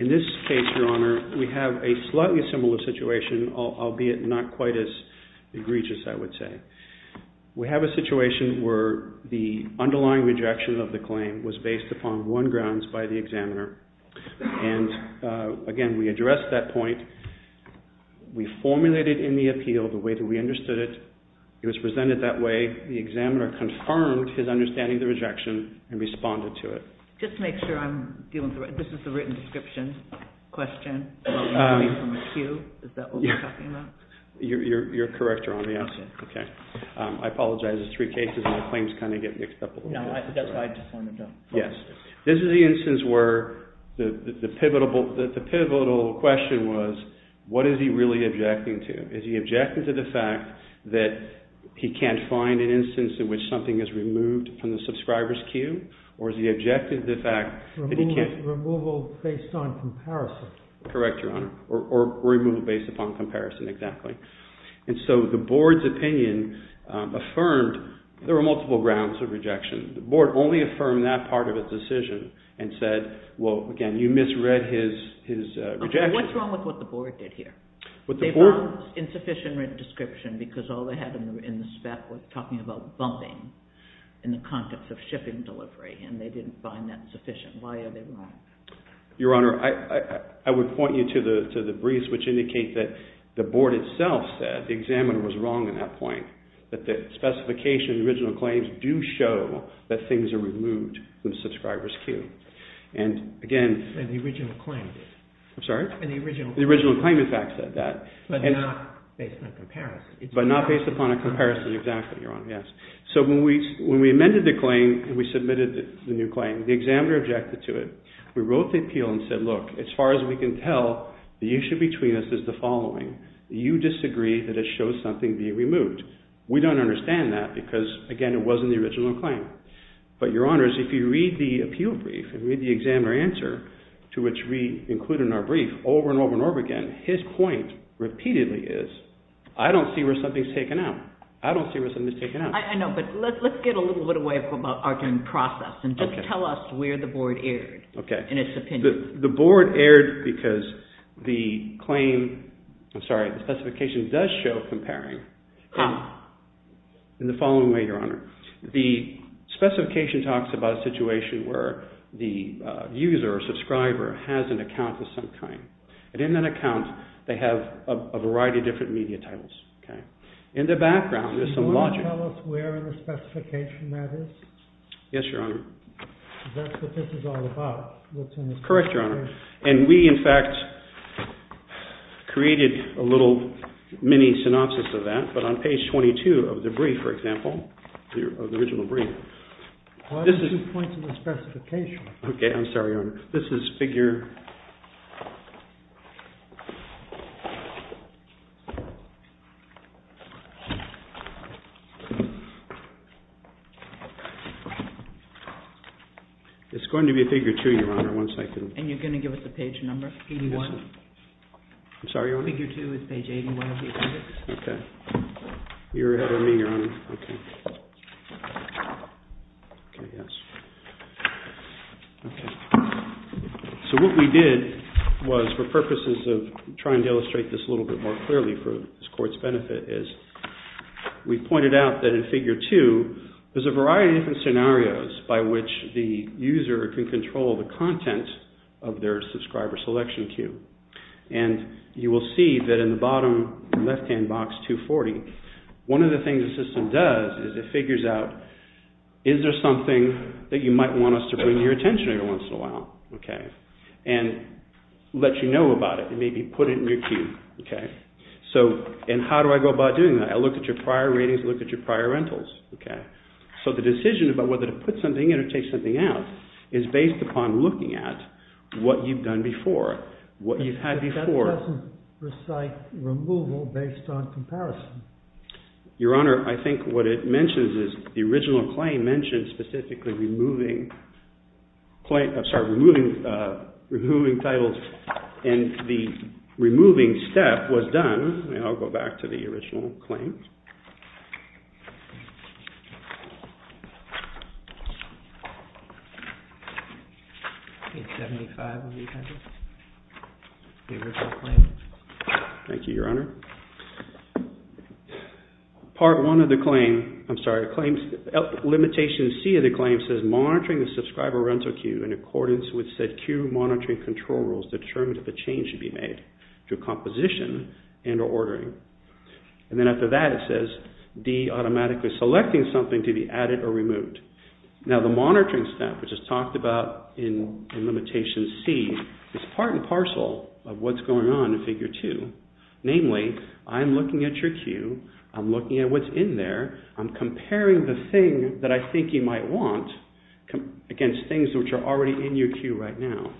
In this case, Your Honor, we have a slightly similar situation, albeit not quite as egregious, I would say. We have a situation where the underlying rejection of the claim was based upon one grounds by the examiner. And again, we addressed that point. We formulated in the appeal the way that we understood it. It was presented that way. The examiner confirmed his understanding of the rejection and responded to it. Just to make sure I'm dealing with the right, this is the written description question, not coming from a cue, is that what you're talking about? You're correct, Your Honor, yes. Okay. I apologize, it's three cases and the claims kind of get mixed up a little bit. No, that's why I just wanted to follow up. Yes. This is the instance where the pivotal question was, what is he really objecting to? Is he objecting to the fact that he can't find an instance in which something is removed from the subscriber's cue? Or is he objecting to the fact that he can't... Removal based on comparison. Correct, Your Honor. Or removal based upon comparison, exactly. And so the board's opinion affirmed there were multiple grounds of rejection. The board only affirmed that part of its decision and said, well, again, you misread his rejection. What's wrong with what the board did here? They found insufficient written description because all they had in the spec was talking about bumping in the context of shipping delivery and they didn't find that sufficient. Why are they wrong? Your Honor, I would point you to the briefs which indicate that the board itself said the examiner was wrong in that point, that the specification, original claims do show that things are removed from the subscriber's cue. And again... And the original claim did. I'm sorry? And the original... The original claim, in fact, said that. But not based on comparison. But not based upon a comparison, exactly, Your Honor, yes. So when we amended the claim and we submitted the new claim, the examiner objected to it. We wrote the appeal and said, look, as far as we can tell, the issue between us is the following. You disagree that it shows something being removed. We don't understand that because, again, it wasn't the original claim. But, Your Honors, if you read the appeal brief and read the examiner answer to which we include in our brief over and over and over again, his point repeatedly is, I don't see where something's taken out. I don't see where something's taken out. I know, but let's get a little bit away from our time process and just tell us where the board erred in its opinion. The board erred because the claim, I'm sorry, the specification does show comparing. How? In the following way, Your Honor. The specification talks about a situation where the user or subscriber has an account of some kind. And in that account, they have a variety of different media titles. In the background, there's some logic. Do you want to tell us where in the specification that is? Yes, Your Honor. Because that's what this is all about. Correct, Your Honor. And we, in fact, created a little mini-synopsis of that. But on page 22 of the brief, for example, of the original brief, there are two points in the specification. Okay, I'm sorry, Your Honor. This is figure... It's going to be figure two, Your Honor, once I can... And you're going to give us the page number, 81? I'm sorry, Your Honor? Figure two is page 81 of the appendix. Okay. You're ahead of me, Your Honor. Okay. So what we did was, for purposes of trying to illustrate this a little bit more clearly for this Court's benefit, is we pointed out that in figure two, there's a variety of different scenarios by which the user can control the content of their subscriber selection queue. And you will see that in the bottom left-hand corner of box 240. One of the things the system does is it figures out, is there something that you might want us to bring to your attention every once in a while, okay? And let you know about it, and maybe put it in your queue, okay? So, and how do I go about doing that? I look at your prior ratings, I look at your prior rentals, okay? So the decision about whether to put something in or take something out is based upon looking at what you've done in the past. Your Honor, I think what it mentions is the original claim mentions specifically removing titles, and the removing step was done, and I'll go back to the original claim. Page 75 of the appendix, the original claim. Thank you, Your Honor. Part one of the claim, I'm sorry, limitation C of the claim says monitoring the subscriber rental queue in accordance with said queue monitoring control rules determined that the change should be made to a composition and or ordering. And then after that, it says D automatically selecting something to be added or removed. Now the monitoring step, which is talked about in limitation C, is part and parcel of what's going on in figure two. Namely, I'm looking at your queue, I'm looking at what's in there, I'm comparing the thing that I think you might want against things which are already in your queue right now.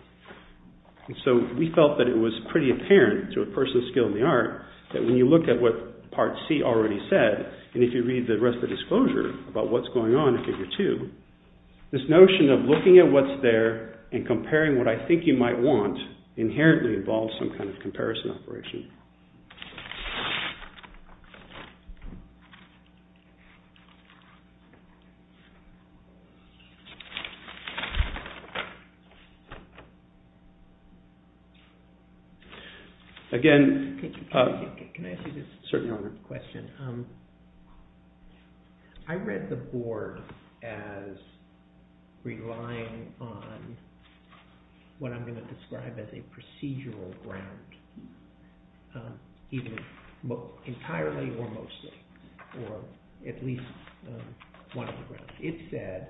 And so we felt that it was pretty apparent to a person's skill in the art that when you look at what part C already said, and if you read the rest of the disclosure about what's going on in figure two, this notion of looking at what's there and comparing what I think you might want inherently involves some kind of comparison operation. Again, I read the board as relying on what I'm going to describe as a procedural ground. Entirely or mostly, or at least one of the rest. It said,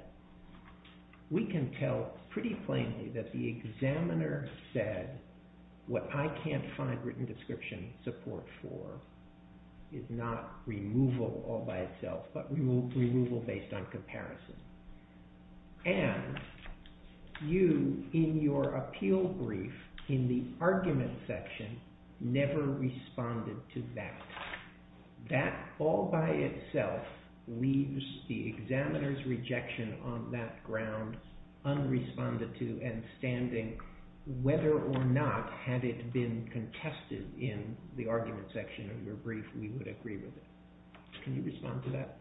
we can tell pretty plainly that the examiner said what I can't find written description support for is not removal all by itself, but removal based on comparison. And you, in your appeal brief, in the argument section, never responded to that. That all by itself leaves the examiner's rejection on that ground unresponded to and standing whether or not had it been contested in the argument section of your brief, we would agree with it. Can you respond to that?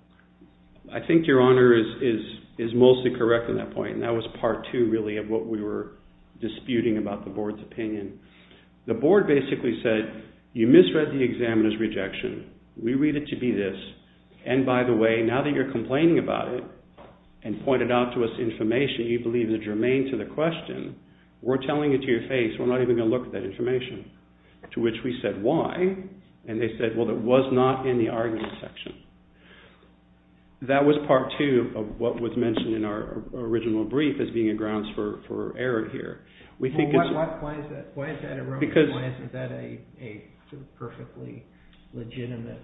I think your honor is mostly correct in that point, and that was part two really of what we were disputing about the board's opinion. The board basically said, you misread the examiner's rejection. We read it to be this. And by the way, now that you're complaining about it and pointed out to us information you believe is germane to the question, we're telling it to your face. We're not even going to look at that information. To which we said why? And they said, well, that was not in the argument section. That was part two of what was mentioned in our original brief as being a grounds for error here. Why is that a perfectly legitimate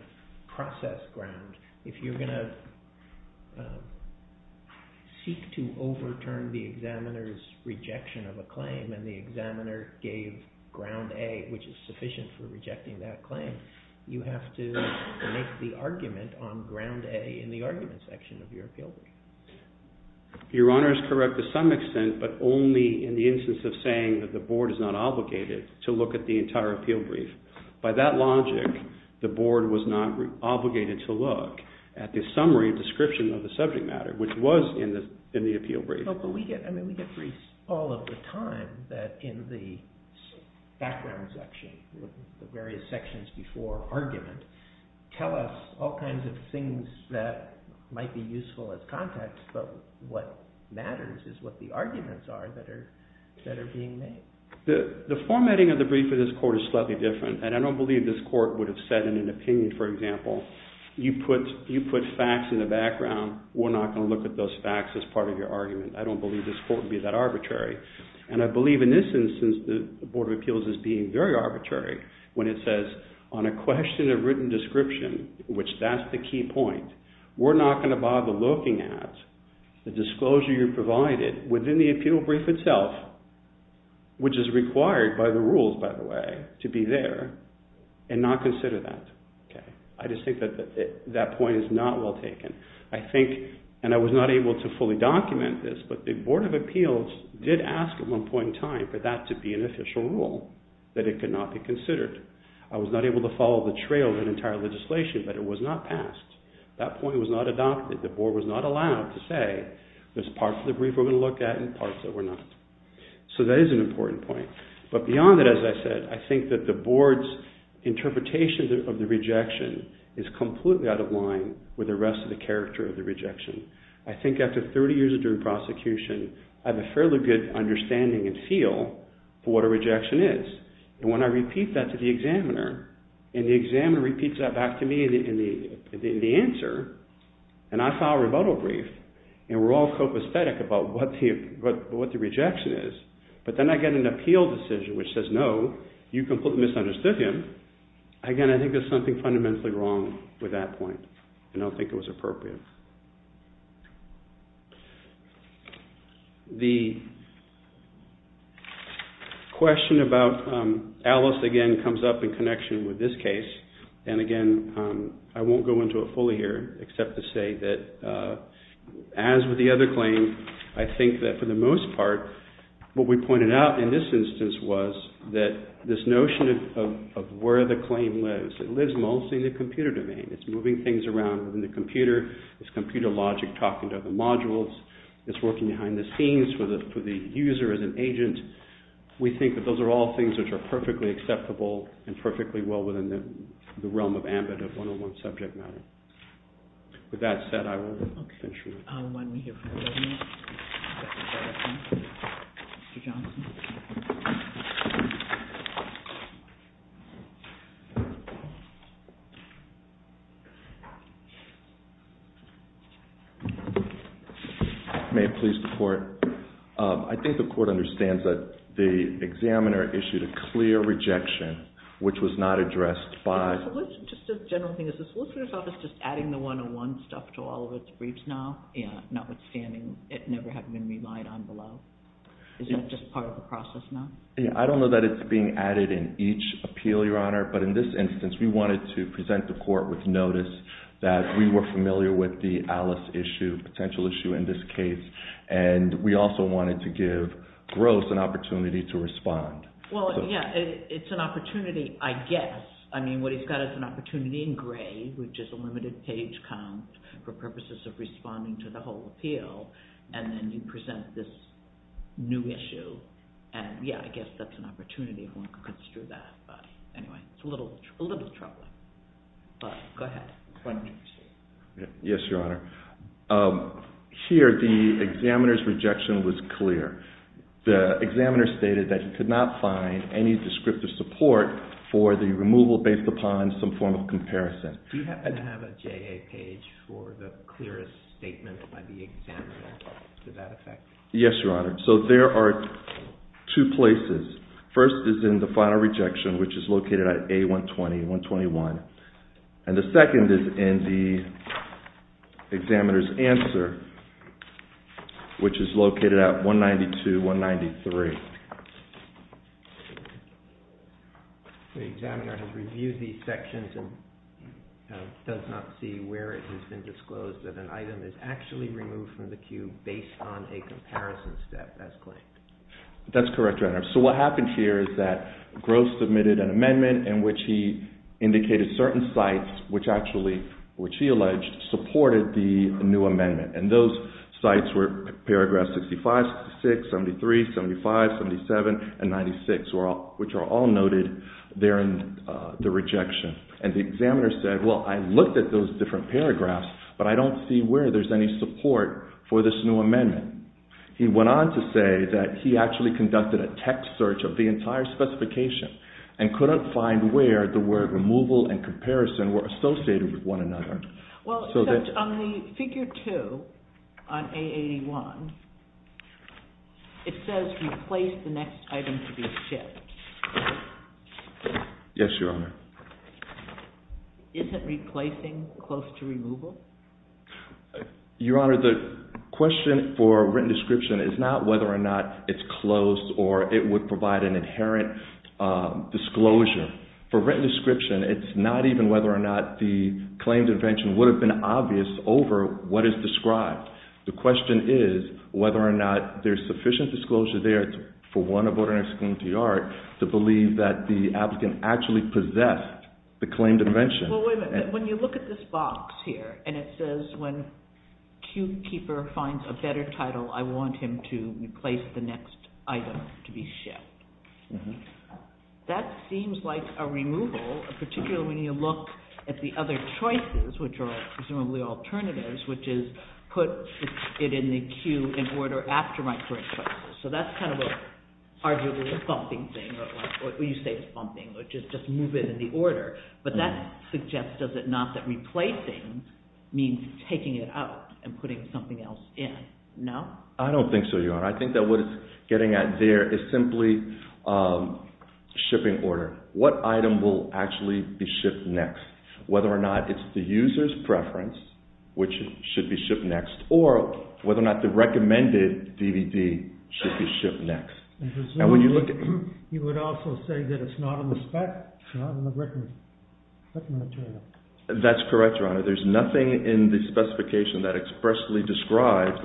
process ground? If you're going to seek to overturn the examiner's rejection of a claim and the examiner gave ground A, which is sufficient for rejecting that claim, you have to make the argument on ground A in the argument section of your appeal brief. Your honor is correct to some extent, but only in the instance of saying that the board is not obligated to look at the entire appeal brief. By that logic, the board was not obligated to look at the summary description of the subject matter, which was in the appeal brief. But we get briefs all of the time that in the background section, the various sections before argument, tell us all kinds of things that might be useful as context, but what matters is what the arguments are that are being made. The formatting of the brief of this court is slightly different, and I don't believe this court would have said in an opinion, for example, you put facts in the background, we're not going to look at those facts as part of your argument. I don't believe this court would be that arbitrary. And I believe in this instance, the Board of Appeals is being very arbitrary when it says on a question of written description, which that's the key point, we're not going to bother looking at the disclosure you provided within the appeal brief itself, which is required by the rules, by the way, to be there, and not consider that. I just think that that point is not well taken. I think, and I was not able to fully document this, but the Board of Appeals did ask at that to be an official rule, that it could not be considered. I was not able to follow the trail of an entire legislation, but it was not passed. That point was not adopted. The Board was not allowed to say, there's parts of the brief we're going to look at and parts that we're not. So that is an important point. But beyond that, as I said, I think that the Board's interpretation of the rejection is completely out of line with the rest of the character of the rejection. I think after 30 years of doing prosecution, I have a fairly good understanding and feel for what a rejection is. And when I repeat that to the examiner, and the examiner repeats that back to me in the answer, and I file a rebuttal brief, and we're all copacetic about what the rejection is, but then I get an appeal decision which says, no, you completely misunderstood him. Again, I think there's something fundamentally wrong with that point, and I don't think it was appropriate. The question about Alice again comes up in connection with this case. And again, I won't go into it fully here, except to say that as with the other claim, I think that for the most part, what we pointed out in this instance was that this notion of where the logic talking to other modules, this working behind the scenes for the user as an agent, we think that those are all things which are perfectly acceptable and perfectly well within the realm of ambit of one-on-one subject matter. With that said, I will finish. May I please report? I think the court understands that the examiner issued a clear rejection, which was not addressed by... Notwithstanding it never having been relied on below. Is that just part of the process now? I don't know that it's being added in each appeal, Your Honor, but in this instance, we wanted to present the court with notice that we were familiar with the Alice issue, potential issue in this case, and we also wanted to give Gross an opportunity to respond. Well, yeah, it's an opportunity, I guess. I mean, what he's got is an opportunity in a limited page count for purposes of responding to the whole appeal, and then you present this new issue, and yeah, I guess that's an opportunity if one could consider that, but anyway, it's a little troubling, but go ahead. Yes, Your Honor. Here, the examiner's rejection was clear. The examiner stated that he could not find any descriptive support for the removal based upon some form of comparison. Do you happen to have a JA page for the clearest statement by the examiner to that effect? Yes, Your Honor. So there are two places. First is in the final rejection, which is located at A120, 121, and the second is in the examiner's answer, which is located at 192, 193. The examiner has reviewed these sections and does not see where it has been disclosed that an item is actually removed from the queue based on a comparison step, as claimed. That's correct, Your Honor. So what happened here is that Gross submitted an amendment in which he indicated certain sites, which actually, which he alleged, supported the new amendment, and those which are all noted there in the rejection. And the examiner said, well, I looked at those different paragraphs, but I don't see where there's any support for this new amendment. He went on to say that he actually conducted a text search of the entire specification and couldn't find where the word removal and comparison were associated with one another. Well, except on the figure two on A81, it says replace the next item to be shipped. Yes, Your Honor. Isn't replacing close to removal? Your Honor, the question for written description is not whether or not it's closed or it would provide an obvious over what is described. The question is whether or not there's sufficient disclosure there for one to believe that the applicant actually possessed the claim to mention. Well, wait a minute. When you look at this box here, and it says when queuekeeper finds a better title, I want him to replace the next item to be shipped. That seems like a removal, particularly when you look at the other choices, which are presumably alternatives, which is put it in the queue in order after my current choices. So that's kind of arguably a bumping thing, or you say it's bumping, which is just move it in the order. But that suggests, does it not, that replacing means taking it out and putting something else in? No? I don't think so, Your Honor. I think that what it's getting at there is simply shipping order. What item will actually be shipped next? Whether or not it's the user's preference, which should be shipped next, or whether or not the recommended DVD should be shipped next. And presumably, you would also say that it's not on the spec, it's not on the written material. That's correct, Your Honor. There's nothing in the specification that expressly describes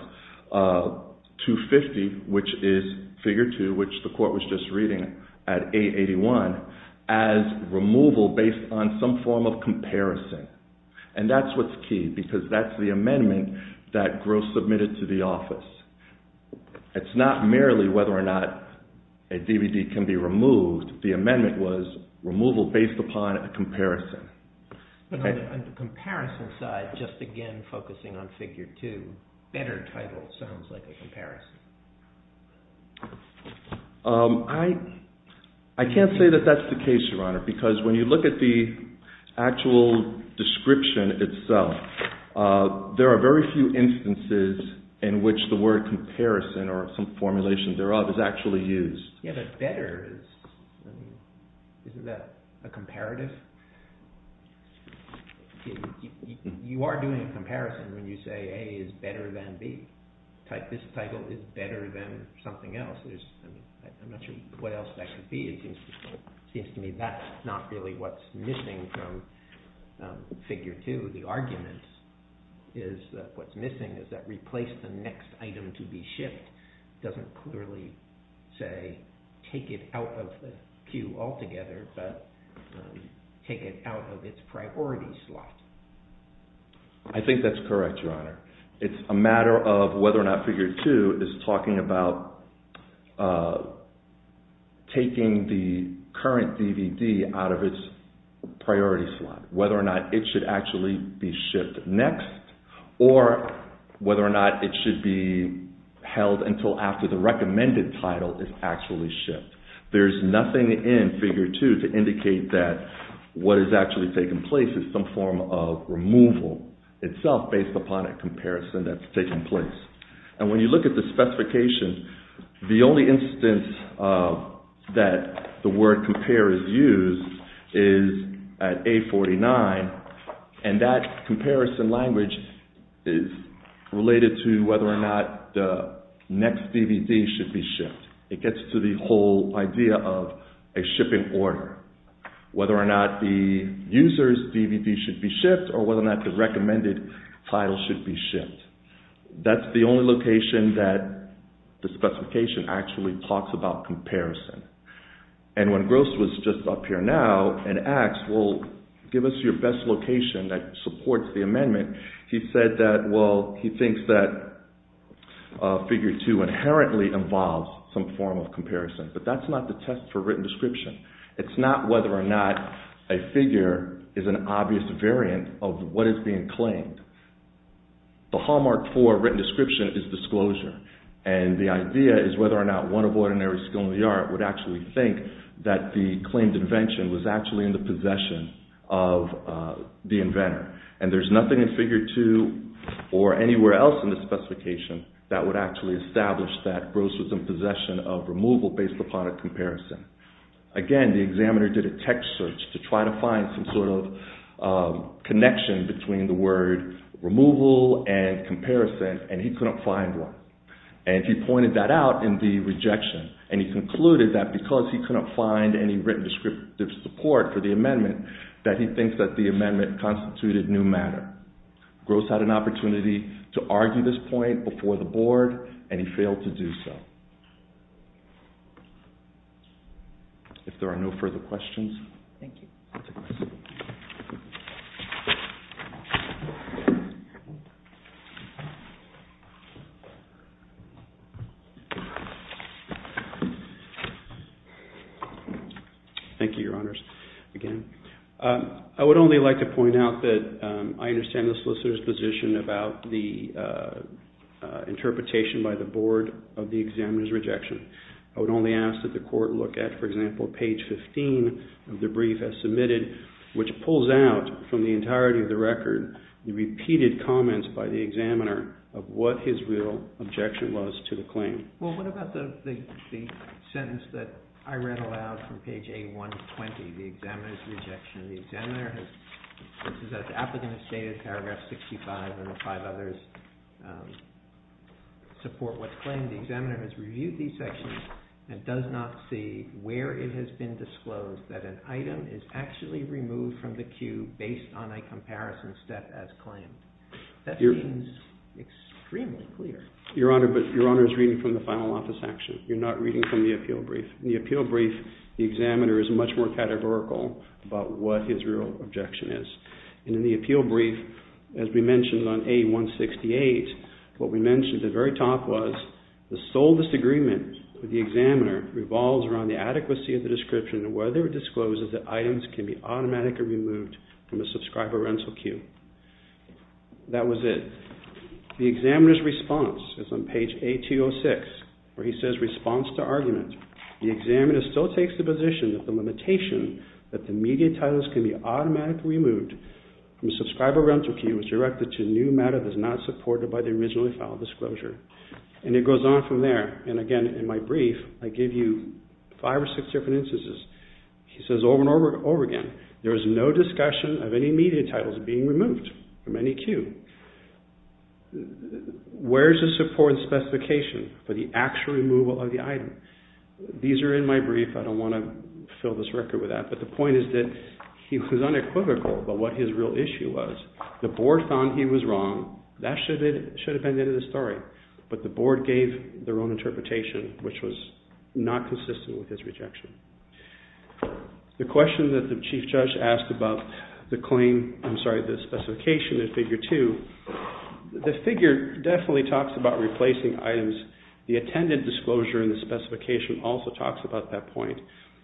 250, which is figure 2, which the court was just reading at 881, as removal based on some form of comparison. And that's what's key, because that's the amendment that Gross submitted to the office. It's not merely whether or not a DVD can be removed. The amendment was removal based upon a comparison. On the comparison side, just again focusing on figure 2, better title sounds like a comparison. I can't say that that's the case, Your Honor, because when you look at the actual description itself, there are very few instances in which the word comparison or some formulation thereof is actually used. Yeah, but better, isn't that a comparative? You are doing a comparison when you say A is better than B. This title is better than something else. I'm not sure what else that could be. It seems to me that's not really what's missing from figure 2. The argument is that what's missing is that replace the next item to be shipped doesn't clearly say take it out of the queue altogether, but take it out of its priority slot. I think that's correct, Your Honor. It's a matter of whether or not figure 2 is talking about taking the current DVD out of its priority slot, whether or not it should actually be shipped next, or whether or not it should be held until after the recommended title is actually shipped. There's nothing in figure 2 to indicate that what is actually taking place is some form of removal itself based upon a comparison that's taking place. When you look at the specification, the only instance that the word compare is used is at A49, and that comparison language is related to whether or not the next DVD should be shipped. It gets to the whole idea of a shipping order, whether or not the user's DVD should be shipped or whether or not the recommended title should be shipped. That's the only location that the specification actually talks about comparison. And when Gross was just up here now and asked, well, give us your best location that supports the amendment, he said that, well, he thinks that figure 2 inherently involves some form of comparison, but that's not the test for written description. It's not whether or not a figure is an obvious variant of what is being claimed. The hallmark for written description is disclosure, and the idea is whether or not one of ordinary skill in the art would actually think that the claimed invention was actually in the possession of the inventor. And there's nothing in figure 2 or anywhere else in the specification that would actually establish that Gross was in possession of removal based upon a comparison. Again, the examiner did a text search to try to find some sort of connection between the word removal and comparison, and he couldn't find one. And he pointed that out in the rejection, and he concluded that because he couldn't find any written descriptive support for the amendment, that he thinks that the amendment constituted new matter. Gross had an opportunity to argue this point before the board, and he failed to do so. If there are no further questions. Thank you. Thank you, Your Honors. Again, I would only like to point out that I understand the solicitor's position about the interpretation by the board of the examiner's rejection. I would only ask that the court look at, for example, page 15 of the brief as submitted, which pulls out from the entirety of the record the repeated comments by the examiner of what his real objection was to the claim. Well, what about the sentence that I read aloud from page A120, the examiner's rejection? The examiner has, this is as the applicant has stated, paragraph 65 and the five others support what's claimed. The examiner has reviewed these sections and does not see where it has been disclosed that an item is actually removed from the queue based on a comparison step as claimed. That seems extremely clear. Your Honor, but Your Honor is reading from the final office section. You're not reading from the appeal brief. In the appeal brief, the examiner is much more categorical about what his real objection is. And in the appeal brief, as we mentioned on A168, what we mentioned at the very top was the sole disagreement with the examiner revolves around the adequacy of the description and whether it discloses that items can be automatically removed from a subscriber rental queue. That was it. The examiner's response is on page A206 where he says response to argument. The examiner still takes the position that the limitation that the media titles can be automatically removed from subscriber rental queue is directed to new matter that is not supported by the originally filed disclosure. And it goes on from there. And again, in my brief, I give you five or six different instances. He says over and over again, there is no discussion of any media titles being removed from any queue. Where is the support and specification for the actual removal of the item? These are in my brief. I don't want to fill this record with that. But the point is that he was unequivocal about what his real issue was. The board found he was wrong. That should have been the end of the story. But the board gave their own interpretation, which was not consistent with his rejection. The question that the Chief Judge asked about the claim, I'm sorry, the specification in Figure 2. The figure definitely talks about replacing items. The attended disclosure in the specification also talks about that point.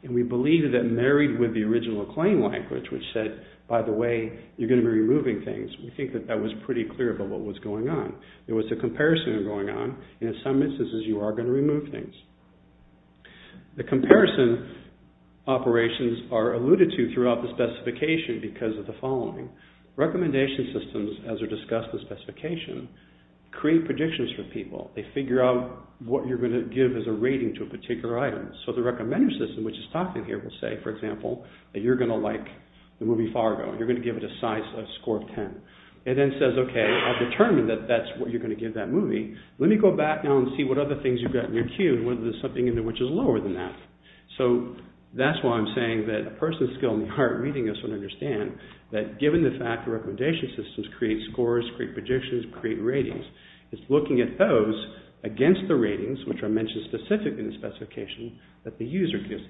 And we believe that married with the original claim language, which said, by the way, you're going to be removing things. We think that that was pretty clear about what was going on. There was a comparison going on. In some instances, you are going to remove things. The comparison operations are alluded to throughout the specification because of the following. Recommendation systems, as are discussed in the specification, create predictions for people. They figure out what you're going to give as a rating to a particular item. So the recommender system, which is talking here, will say, for example, that you're going to like the movie Fargo. You're going to give it a score of 10. It then says, okay, I've determined that that's what you're going to give that movie. Let me go back now and see what other things you've got in your queue and whether there's something in there which is lower than that. So that's why I'm saying that a person's skill in the art of reading is to understand that given the fact that recommendation systems create scores, create predictions, create ratings. It's looking at those against the ratings, which are mentioned specifically in the specification, that the user gives to the items. Thank you.